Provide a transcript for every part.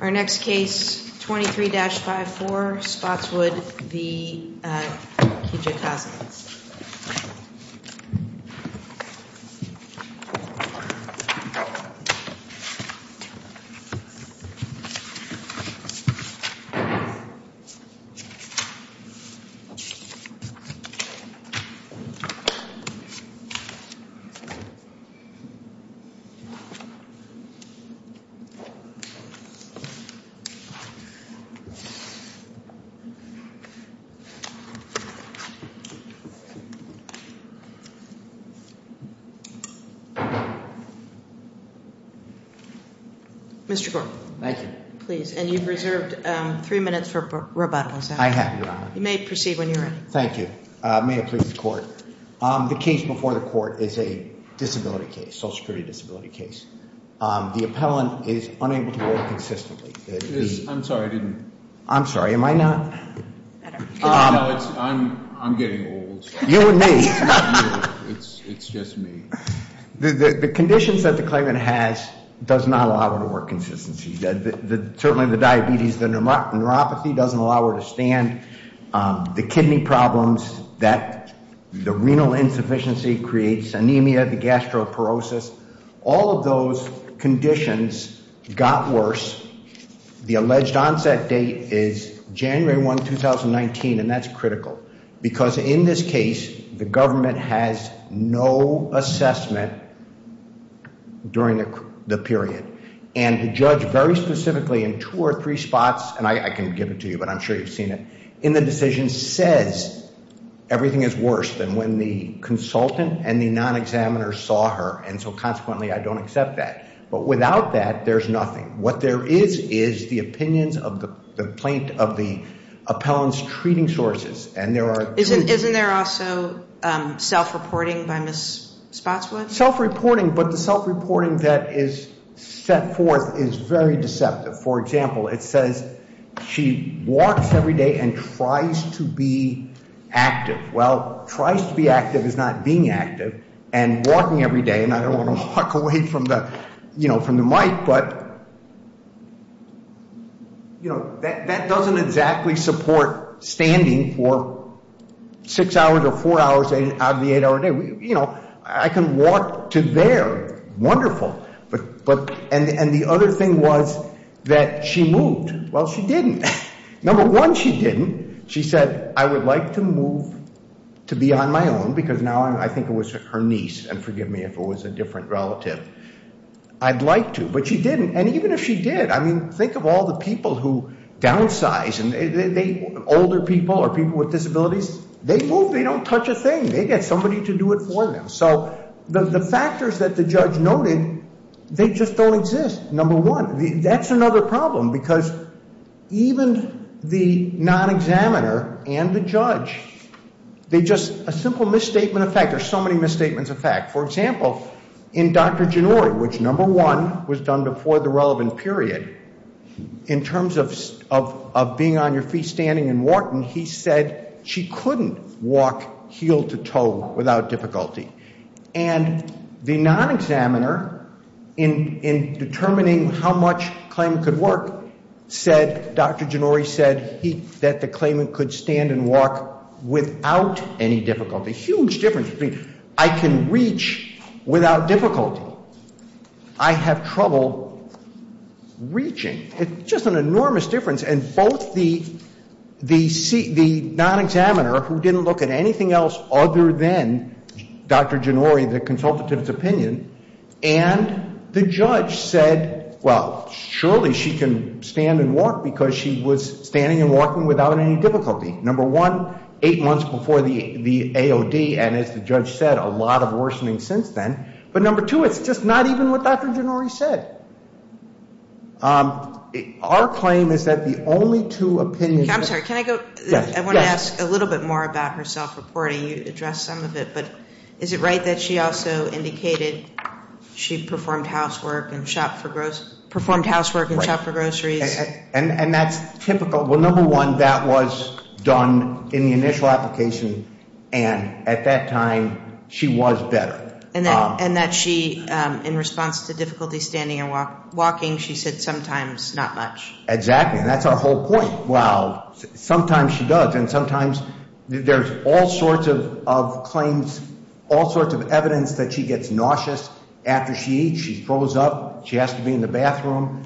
Our next case, 23-54 Spotswood v. Kijakazi Mr. Gore. Thank you. Please, and you've reserved three minutes for rebuttals. I have, Your Honor. You may proceed when you're ready. Thank you. May it please the Court. The case before the Court is a disability case, social security disability case. The appellant is unable to work consistently. I'm sorry, I didn't. I'm sorry, am I not? No, I'm getting old. You and me. It's just me. The conditions that the claimant has does not allow her to work consistently. Certainly the diabetes, the neuropathy doesn't allow her to stand. The kidney problems, the renal insufficiency creates anemia, the gastroparosis, all of those conditions got worse. The alleged onset date is January 1, 2019, and that's critical because in this case, the government has no assessment during the period. And the judge very specifically in two or three spots, and I can give it to you, but I'm sure you've seen it, in the decision says everything is worse than when the consultant and the non-examiner saw her. And so consequently, I don't accept that. But without that, there's nothing. What there is is the opinions of the plaintiff, of the appellant's treating sources. Isn't there also self-reporting by Ms. Spotswood? Self-reporting, but the self-reporting that is set forth is very deceptive. For example, it says she walks every day and tries to be active. Well, tries to be active is not being active. And walking every day, and I don't want to walk away from the mic, but that doesn't exactly support standing for six hours or four hours out of the eight-hour day. I can walk to there. Wonderful. And the other thing was that she moved. Well, she didn't. Number one, she didn't. She said, I would like to move to be on my own because now I think it was her niece, and forgive me if it was a different relative. I'd like to, but she didn't. And even if she did, I mean, think of all the people who downsize. Older people or people with disabilities, they move, they don't touch a thing. They get somebody to do it for them. So the factors that the judge noted, they just don't exist, number one. That's another problem because even the non-examiner and the judge, they just, a simple misstatement of fact, there's so many misstatements of fact. For example, in Dr. Genori, which number one was done before the relevant period, in terms of being on your feet standing and walking, he said she couldn't walk heel to toe without difficulty. And the non-examiner, in determining how much claim could work, said, Dr. Genori said that the claimant could stand and walk without any difficulty. A huge difference. I can reach without difficulty. I have trouble reaching. It's just an enormous difference. And both the non-examiner, who didn't look at anything else other than Dr. Genori, the consultant to this opinion, and the judge said, well, surely she can stand and walk because she was standing and walking without any difficulty. Number one, eight months before the AOD, and as the judge said, a lot of worsening since then. But number two, it's just not even what Dr. Genori said. Our claim is that the only two opinions. I'm sorry, can I go? Yes. I want to ask a little bit more about her self-reporting. You addressed some of it, but is it right that she also indicated she performed housework and shopped for groceries? And that's typical. Well, number one, that was done in the initial application, and at that time, she was better. And that she, in response to difficulty standing and walking, she said sometimes not much. Exactly, and that's our whole point. Well, sometimes she does, and sometimes there's all sorts of claims, all sorts of evidence that she gets nauseous after she eats. She throws up. She has to be in the bathroom.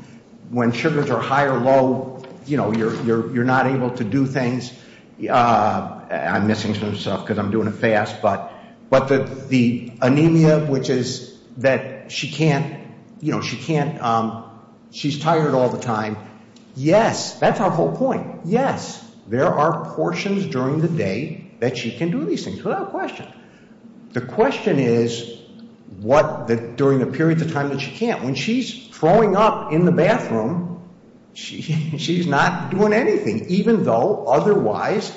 When sugars are high or low, you know, you're not able to do things. I'm missing some stuff because I'm doing it fast, but the anemia, which is that she can't, you know, she can't, she's tired all the time. Yes, that's our whole point. Yes, there are portions during the day that she can do these things without question. The question is what, during the period of time that she can't. When she's throwing up in the bathroom, she's not doing anything, even though otherwise,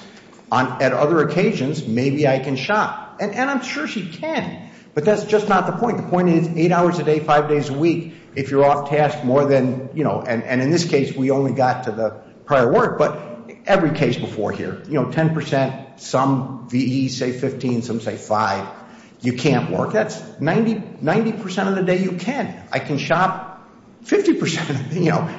at other occasions, maybe I can shop. And I'm sure she can, but that's just not the point. The point is eight hours a day, five days a week, if you're off task more than, you know, and in this case, we only got to the prior work. But every case before here, you know, 10%, some VEs say 15, some say five. You can't work. That's 90% of the day you can. I can shop 50%, you know,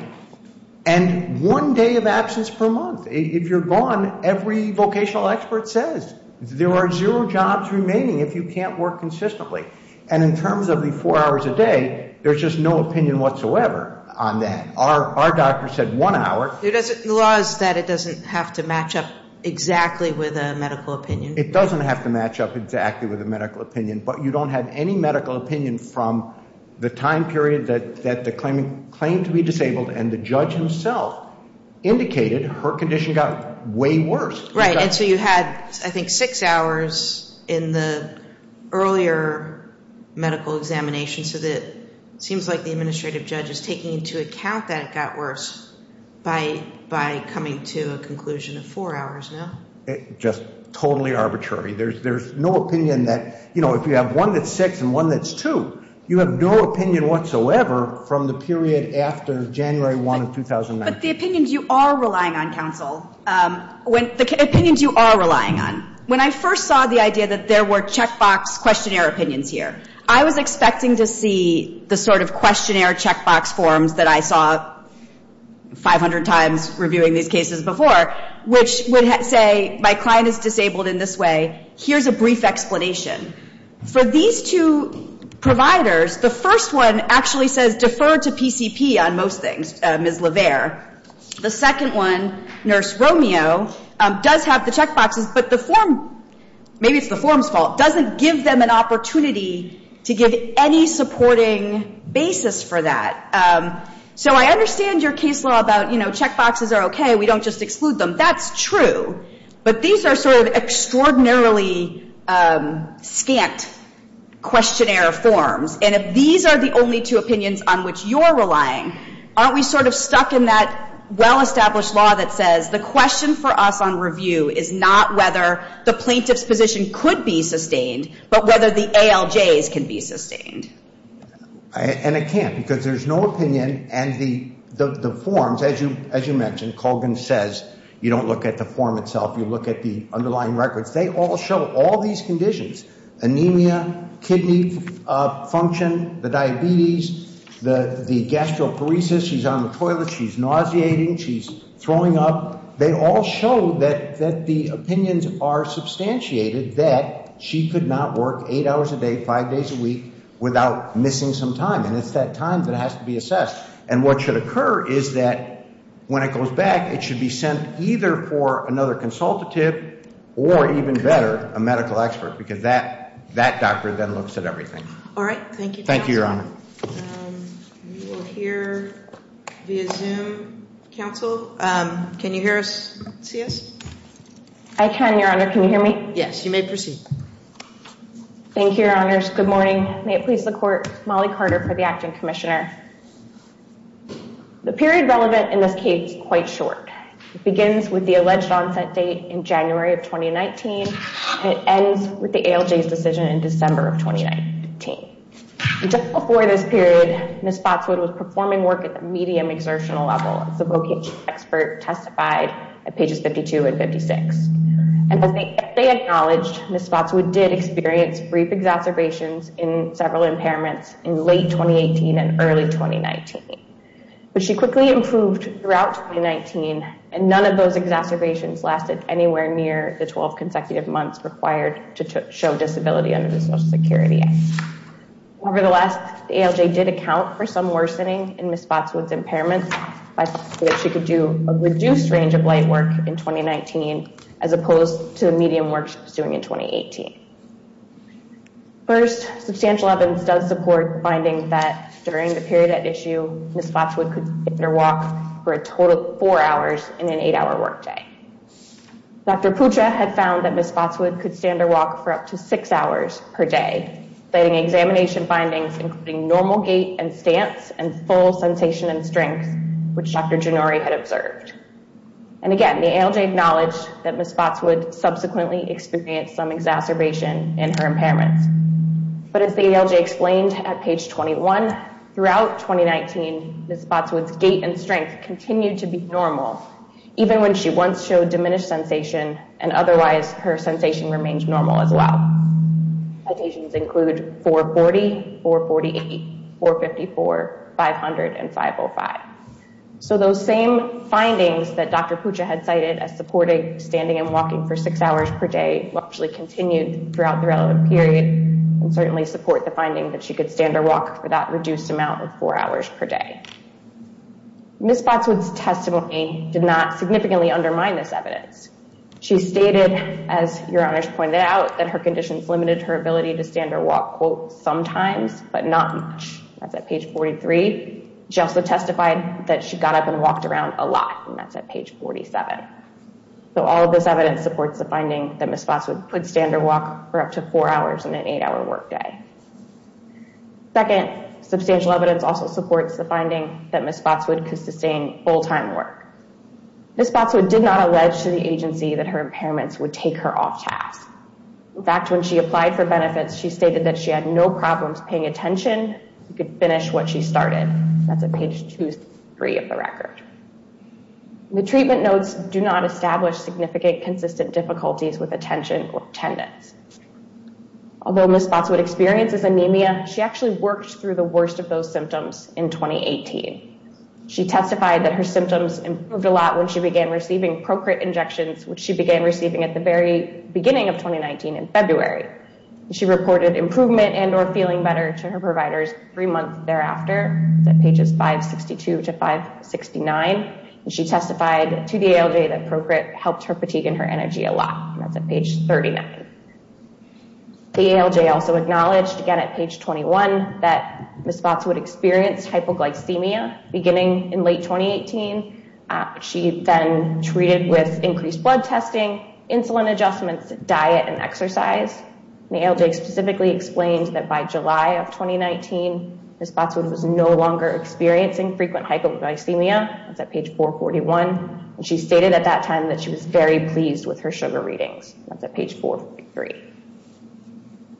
and one day of absence per month. If you're gone, every vocational expert says there are zero jobs remaining if you can't work consistently. And in terms of the four hours a day, there's just no opinion whatsoever on that. Our doctor said one hour. The law is that it doesn't have to match up exactly with a medical opinion. It doesn't have to match up exactly with a medical opinion, but you don't have any medical opinion from the time period that the claimant claimed to be disabled, and the judge himself indicated her condition got way worse. Right, and so you had, I think, six hours in the earlier medical examination, so it seems like the administrative judge is taking into account that it got worse by coming to a conclusion of four hours now. Just totally arbitrary. There's no opinion that, you know, if you have one that's six and one that's two, you have no opinion whatsoever from the period after January 1 of 2009. But the opinions you are relying on, counsel, the opinions you are relying on, when I first saw the idea that there were checkbox questionnaire opinions here, I was expecting to see the sort of questionnaire checkbox forms that I saw 500 times reviewing these cases before, which would say my client is disabled in this way. Here's a brief explanation. For these two providers, the first one actually says defer to PCP on most things, Ms. LeVere. The second one, Nurse Romeo, does have the checkboxes, but the form, maybe it's the form's fault, doesn't give them an opportunity to give any supporting basis for that. So I understand your case law about, you know, checkboxes are okay, we don't just exclude them. That's true. But these are sort of extraordinarily scant questionnaire forms. And if these are the only two opinions on which you're relying, aren't we sort of stuck in that well-established law that says the question for us on review is not whether the plaintiff's position could be sustained, but whether the ALJs can be sustained. And it can't because there's no opinion and the forms, as you mentioned, as Mr. Colgan says, you don't look at the form itself, you look at the underlying records. They all show all these conditions, anemia, kidney function, the diabetes, the gastroparesis, she's on the toilet, she's nauseating, she's throwing up. They all show that the opinions are substantiated that she could not work eight hours a day, five days a week, without missing some time. And it's that time that has to be assessed. And what should occur is that when it goes back, it should be sent either for another consultative or, even better, a medical expert because that doctor then looks at everything. All right. Thank you, Your Honor. Thank you, Your Honor. We will hear via Zoom. Counsel, can you hear us, see us? I can, Your Honor. Can you hear me? Yes. You may proceed. Thank you, Your Honors. Good morning. Good morning. May it please the Court, Molly Carter for the Acting Commissioner. The period relevant in this case is quite short. It begins with the alleged onset date in January of 2019 and it ends with the ALJ's decision in December of 2019. And just before this period, Ms. Spotswood was performing work at the medium exertional level, as the vocation expert testified at pages 52 and 56. And as they acknowledged, Ms. Spotswood did experience brief exacerbations in several impairments in late 2018 and early 2019. But she quickly improved throughout 2019 and none of those exacerbations lasted anywhere near the 12 consecutive months required to show disability under the Social Security Act. Nevertheless, the ALJ did account for some worsening in Ms. Spotswood's impairments by saying that she could do a reduced range of light work in 2019 as opposed to the medium work she was doing in 2018. First, substantial evidence does support the finding that during the period at issue, Ms. Spotswood could stand or walk for a total of four hours in an eight-hour workday. Dr. Putra had found that Ms. Spotswood could stand or walk for up to six hours per day, citing examination findings including normal gait and stance and full sensation and strength, which Dr. Jannori had observed. And again, the ALJ acknowledged that Ms. Spotswood subsequently experienced some exacerbation in her impairments. But as the ALJ explained at page 21, throughout 2019, Ms. Spotswood's gait and strength continued to be normal, even when she once showed diminished sensation, and otherwise her sensation remained normal as well. Citations include 440, 448, 454, 500, and 505. So those same findings that Dr. Putra had cited as supporting standing and walking for six hours per day actually continued throughout the relevant period and certainly support the finding that she could stand or walk for that reduced amount of four hours per day. Ms. Spotswood's testimony did not significantly undermine this evidence. She stated, as your honors pointed out, that her conditions limited her ability to stand or walk, quote, sometimes, but not much. That's at page 43. She also testified that she got up and walked around a lot, and that's at page 47. So all of this evidence supports the finding that Ms. Spotswood could stand or walk for up to four hours in an eight-hour workday. Second, substantial evidence also supports the finding that Ms. Spotswood could sustain full-time work. Ms. Spotswood did not allege to the agency that her impairments would take her off task. In fact, when she applied for benefits, she stated that she had no problems paying attention. She could finish what she started. That's at page 23 of the record. The treatment notes do not establish significant consistent difficulties with attention or attendance. Although Ms. Spotswood experiences anemia, she actually worked through the worst of those symptoms in 2018. She testified that her symptoms improved a lot when she began receiving Procrit injections, which she began receiving at the very beginning of 2019 in February. She reported improvement and or feeling better to her providers three months thereafter. That's at pages 562 to 569. She testified to the ALJ that Procrit helped her fatigue and her energy a lot. That's at page 39. The ALJ also acknowledged, again at page 21, that Ms. Spotswood experienced hypoglycemia beginning in late 2018. She then treated with increased blood testing, insulin adjustments, diet, and exercise. The ALJ specifically explained that by July of 2019, Ms. Spotswood was no longer experiencing frequent hypoglycemia. That's at page 441. She stated at that time that she was very pleased with her sugar readings. That's at page 443.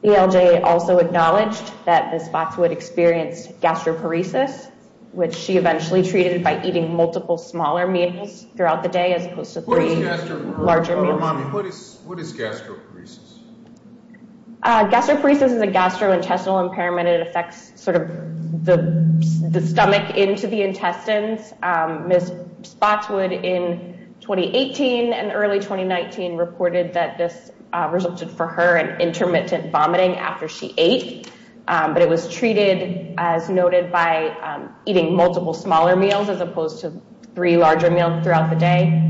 The ALJ also acknowledged that Ms. Spotswood experienced gastroparesis, which she eventually treated by eating multiple smaller meals throughout the day as opposed to three larger meals. What is gastroparesis? Gastroparesis is a gastrointestinal impairment. It affects the stomach into the intestines. Ms. Spotswood in 2018 and early 2019 reported that this resulted for her in intermittent vomiting after she ate, but it was treated, as noted, by eating multiple smaller meals as opposed to three larger meals throughout the day.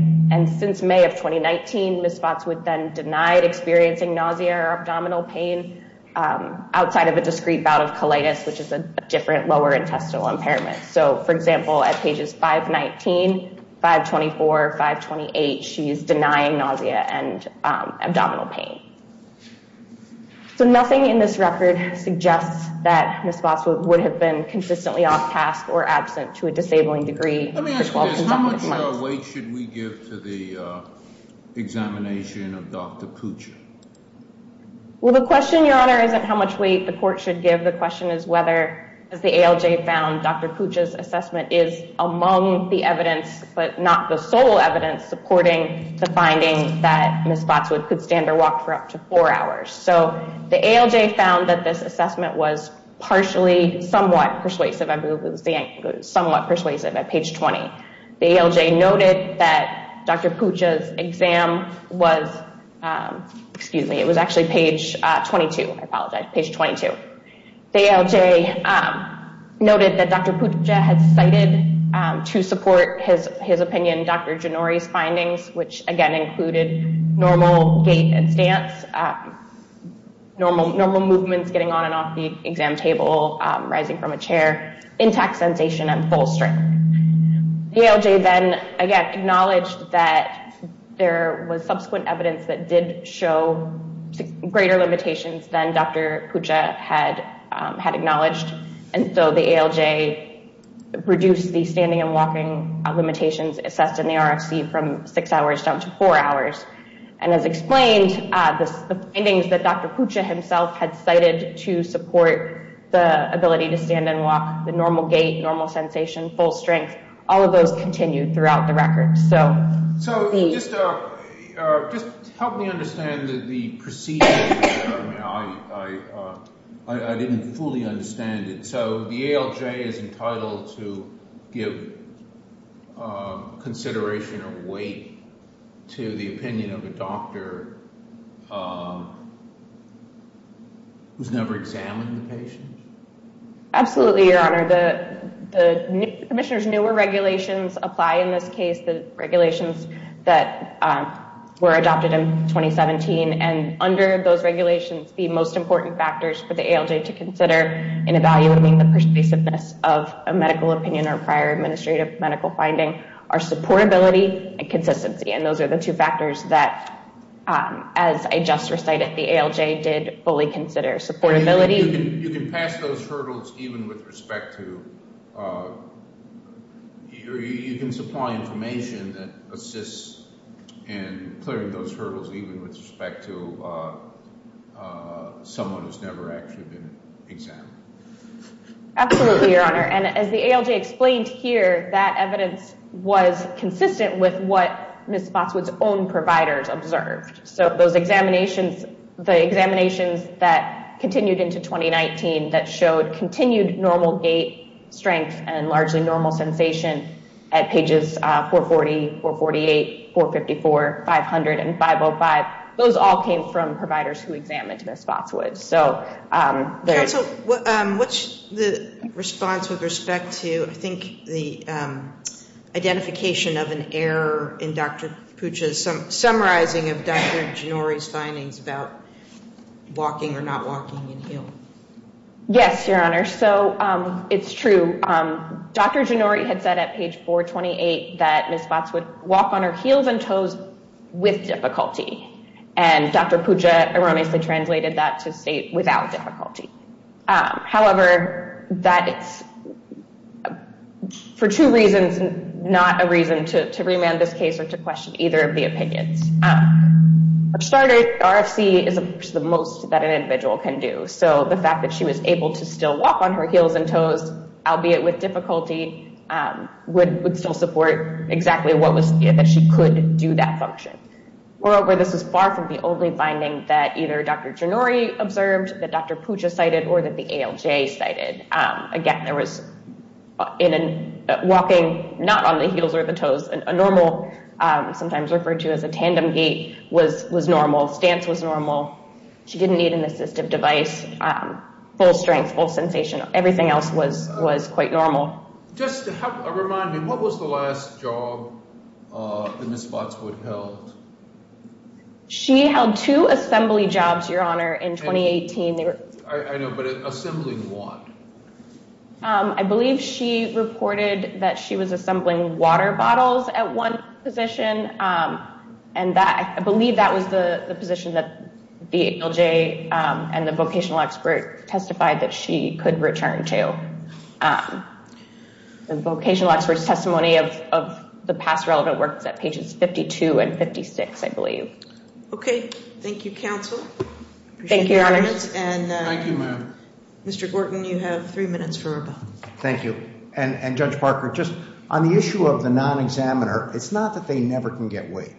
Since May of 2019, Ms. Spotswood then denied experiencing nausea or abdominal pain outside of a discrete bout of colitis, which is a different lower intestinal impairment. So, for example, at pages 519, 524, 528, she is denying nausea and abdominal pain. So nothing in this record suggests that Ms. Spotswood would have been consistently off task or absent to a disabling degree for 12 consecutive months. Let me ask you this. How much weight should we give to the examination of Dr. Pucci? Well, the question, Your Honor, isn't how much weight the court should give. The question is whether, as the ALJ found, Dr. Pucci's assessment is among the evidence, but not the sole evidence supporting the finding that Ms. Spotswood could stand or walk for up to four hours. So the ALJ found that this assessment was partially, somewhat persuasive. I believe it was somewhat persuasive at page 20. The ALJ noted that Dr. Pucci's exam was, excuse me, it was actually page 22, I apologize, page 22. The ALJ noted that Dr. Pucci had cited to support his opinion Dr. Genori's findings, which again included normal gait and stance, normal movements getting on and off the exam table, rising from a chair, intact sensation and full strength. The ALJ then again acknowledged that there was subsequent evidence that did show greater limitations than Dr. Pucci had acknowledged. And so the ALJ reduced the standing and walking limitations assessed in the RFC from six hours down to four hours. And as explained, the findings that Dr. Pucci himself had cited to support the ability to stand and walk, the normal gait, normal sensation, full strength, all of those continued throughout the record. So just help me understand the procedure. I didn't fully understand it. So the ALJ is entitled to give consideration or weight to the opinion of a doctor who's never examined the patient? Absolutely, Your Honor. The Commissioner's newer regulations apply in this case, the regulations that were adopted in 2017. And under those regulations, the most important factors for the ALJ to consider in evaluating the persuasiveness of a medical opinion or prior administrative medical finding are supportability and consistency. And those are the two factors that, as I just recited, the ALJ did fully consider supportability. You can pass those hurdles even with respect to, you can supply information that assists in clearing those hurdles, even with respect to someone who's never actually been examined. Absolutely, Your Honor. And as the ALJ explained here, that evidence was consistent with what Ms. Spotswood's own providers observed. So those examinations, the examinations that continued into 2019 that showed continued normal gait, strength, and largely normal sensation at pages 440, 448, 454, 500, and 505, those all came from providers who examined Ms. Spotswood. Counsel, what's the response with respect to, I think, the identification of an error in Dr. Puccia's summarizing of Dr. Gennori's findings about walking or not walking in heel? Yes, Your Honor. So it's true. Dr. Gennori had said at page 428 that Ms. Spotswood would walk on her heels and toes with difficulty. And Dr. Puccia erroneously translated that to state without difficulty. However, that is for two reasons, not a reason to remand this case or to question either of the opinions. For starters, RFC is the most that an individual can do. So the fact that she was able to still walk on her heels and toes, albeit with difficulty, would still support exactly what was, that she could do that function. Moreover, this is far from the only finding that either Dr. Gennori observed, that Dr. Puccia cited, or that the ALJ cited. Again, there was walking not on the heels or the toes, a normal, sometimes referred to as a tandem gait, was normal. Stance was normal. She didn't need an assistive device. Full strength, full sensation, everything else was quite normal. Just to remind me, what was the last job that Ms. Spotswood held? She held two assembly jobs, Your Honor, in 2018. I know, but assembling what? I believe she reported that she was assembling water bottles at one position. And I believe that was the position that the ALJ and the vocational expert testified that she could return to. The vocational expert's testimony of the past relevant work is at pages 52 and 56, I believe. Okay. Thank you, counsel. Thank you, Your Honor. Thank you, ma'am. Mr. Gordon, you have three minutes for rebuttal. Thank you. And Judge Parker, just on the issue of the non-examiner, it's not that they never can get weight.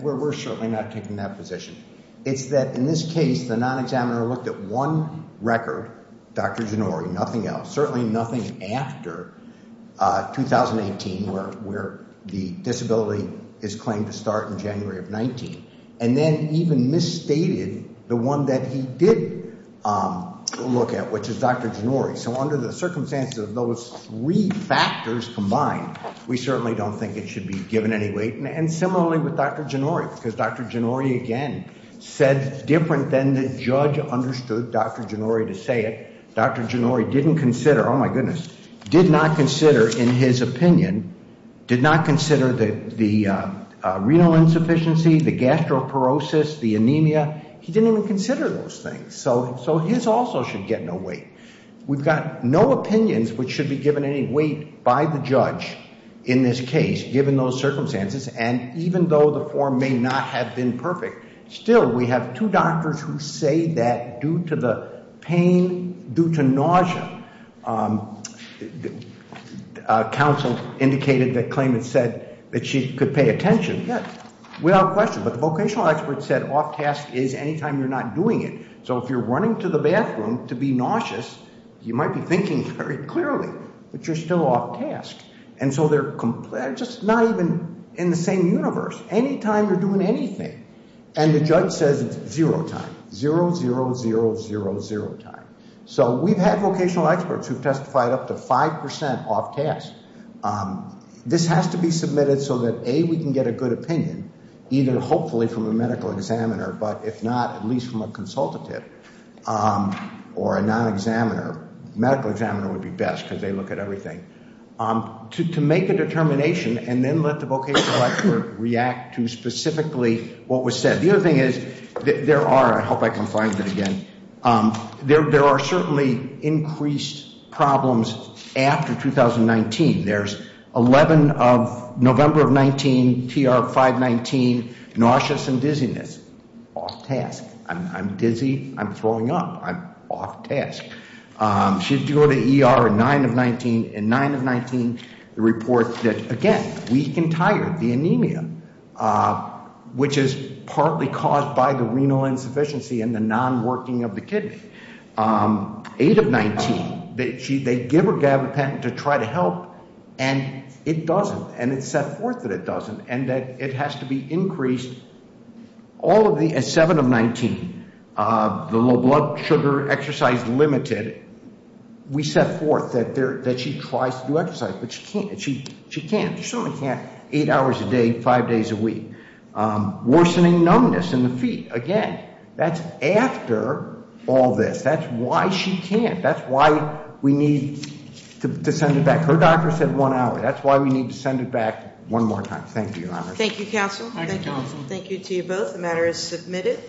We're certainly not taking that position. It's that in this case, the non-examiner looked at one record, Dr. Gennori, nothing else, certainly nothing after 2018, where the disability is claimed to start in January of 2019, and then even misstated the one that he did look at, which is Dr. Gennori. So under the circumstances of those three factors combined, we certainly don't think it should be given any weight. And similarly with Dr. Gennori, because Dr. Gennori, again, said different than the judge understood Dr. Gennori to say it. Dr. Gennori didn't consider, oh my goodness, did not consider in his opinion, did not consider the renal insufficiency, the gastroparosis, the anemia. He didn't even consider those things. So his also should get no weight. We've got no opinions which should be given any weight by the judge in this case, given those circumstances, and even though the form may not have been perfect, still we have two doctors who say that due to the pain, due to nausea, counsel indicated that claimant said that she could pay attention. Without question, but the vocational expert said off task is any time you're not doing it. So if you're running to the bathroom to be nauseous, you might be thinking very clearly, but you're still off task. And so they're just not even in the same universe. Any time you're doing anything. And the judge says it's zero time. Zero, zero, zero, zero, zero time. So we've had vocational experts who've testified up to 5% off task. This has to be submitted so that A, we can get a good opinion, either hopefully from a medical examiner, but if not, at least from a consultative or a non-examiner. Medical examiner would be best because they look at everything. To make a determination and then let the vocational expert react to specifically what was said. The other thing is, there are, I hope I can find it again, there are certainly increased problems after 2019. There's 11 of November of 19, TR 519, nauseous and dizziness, off task. I'm dizzy, I'm throwing up, I'm off task. She had to go to ER in 9 of 19. In 9 of 19, the report that, again, weak and tired, the anemia, which is partly caused by the renal insufficiency and the non-working of the kidney. 8 of 19, they give her gabapentin to try to help, and it doesn't. And it's set forth that it doesn't. And that it has to be increased. All of the, at 7 of 19, the low blood sugar exercise limited, we set forth that she tries to do exercise, but she can't. She certainly can't eight hours a day, five days a week. Worsening numbness in the feet, again, that's after all this. That's why she can't. That's why we need to send it back. Her doctor said one hour. That's why we need to send it back one more time. Thank you, Your Honor. Thank you, counsel. Thank you, counsel. Thank you to you both. The matter is submitted.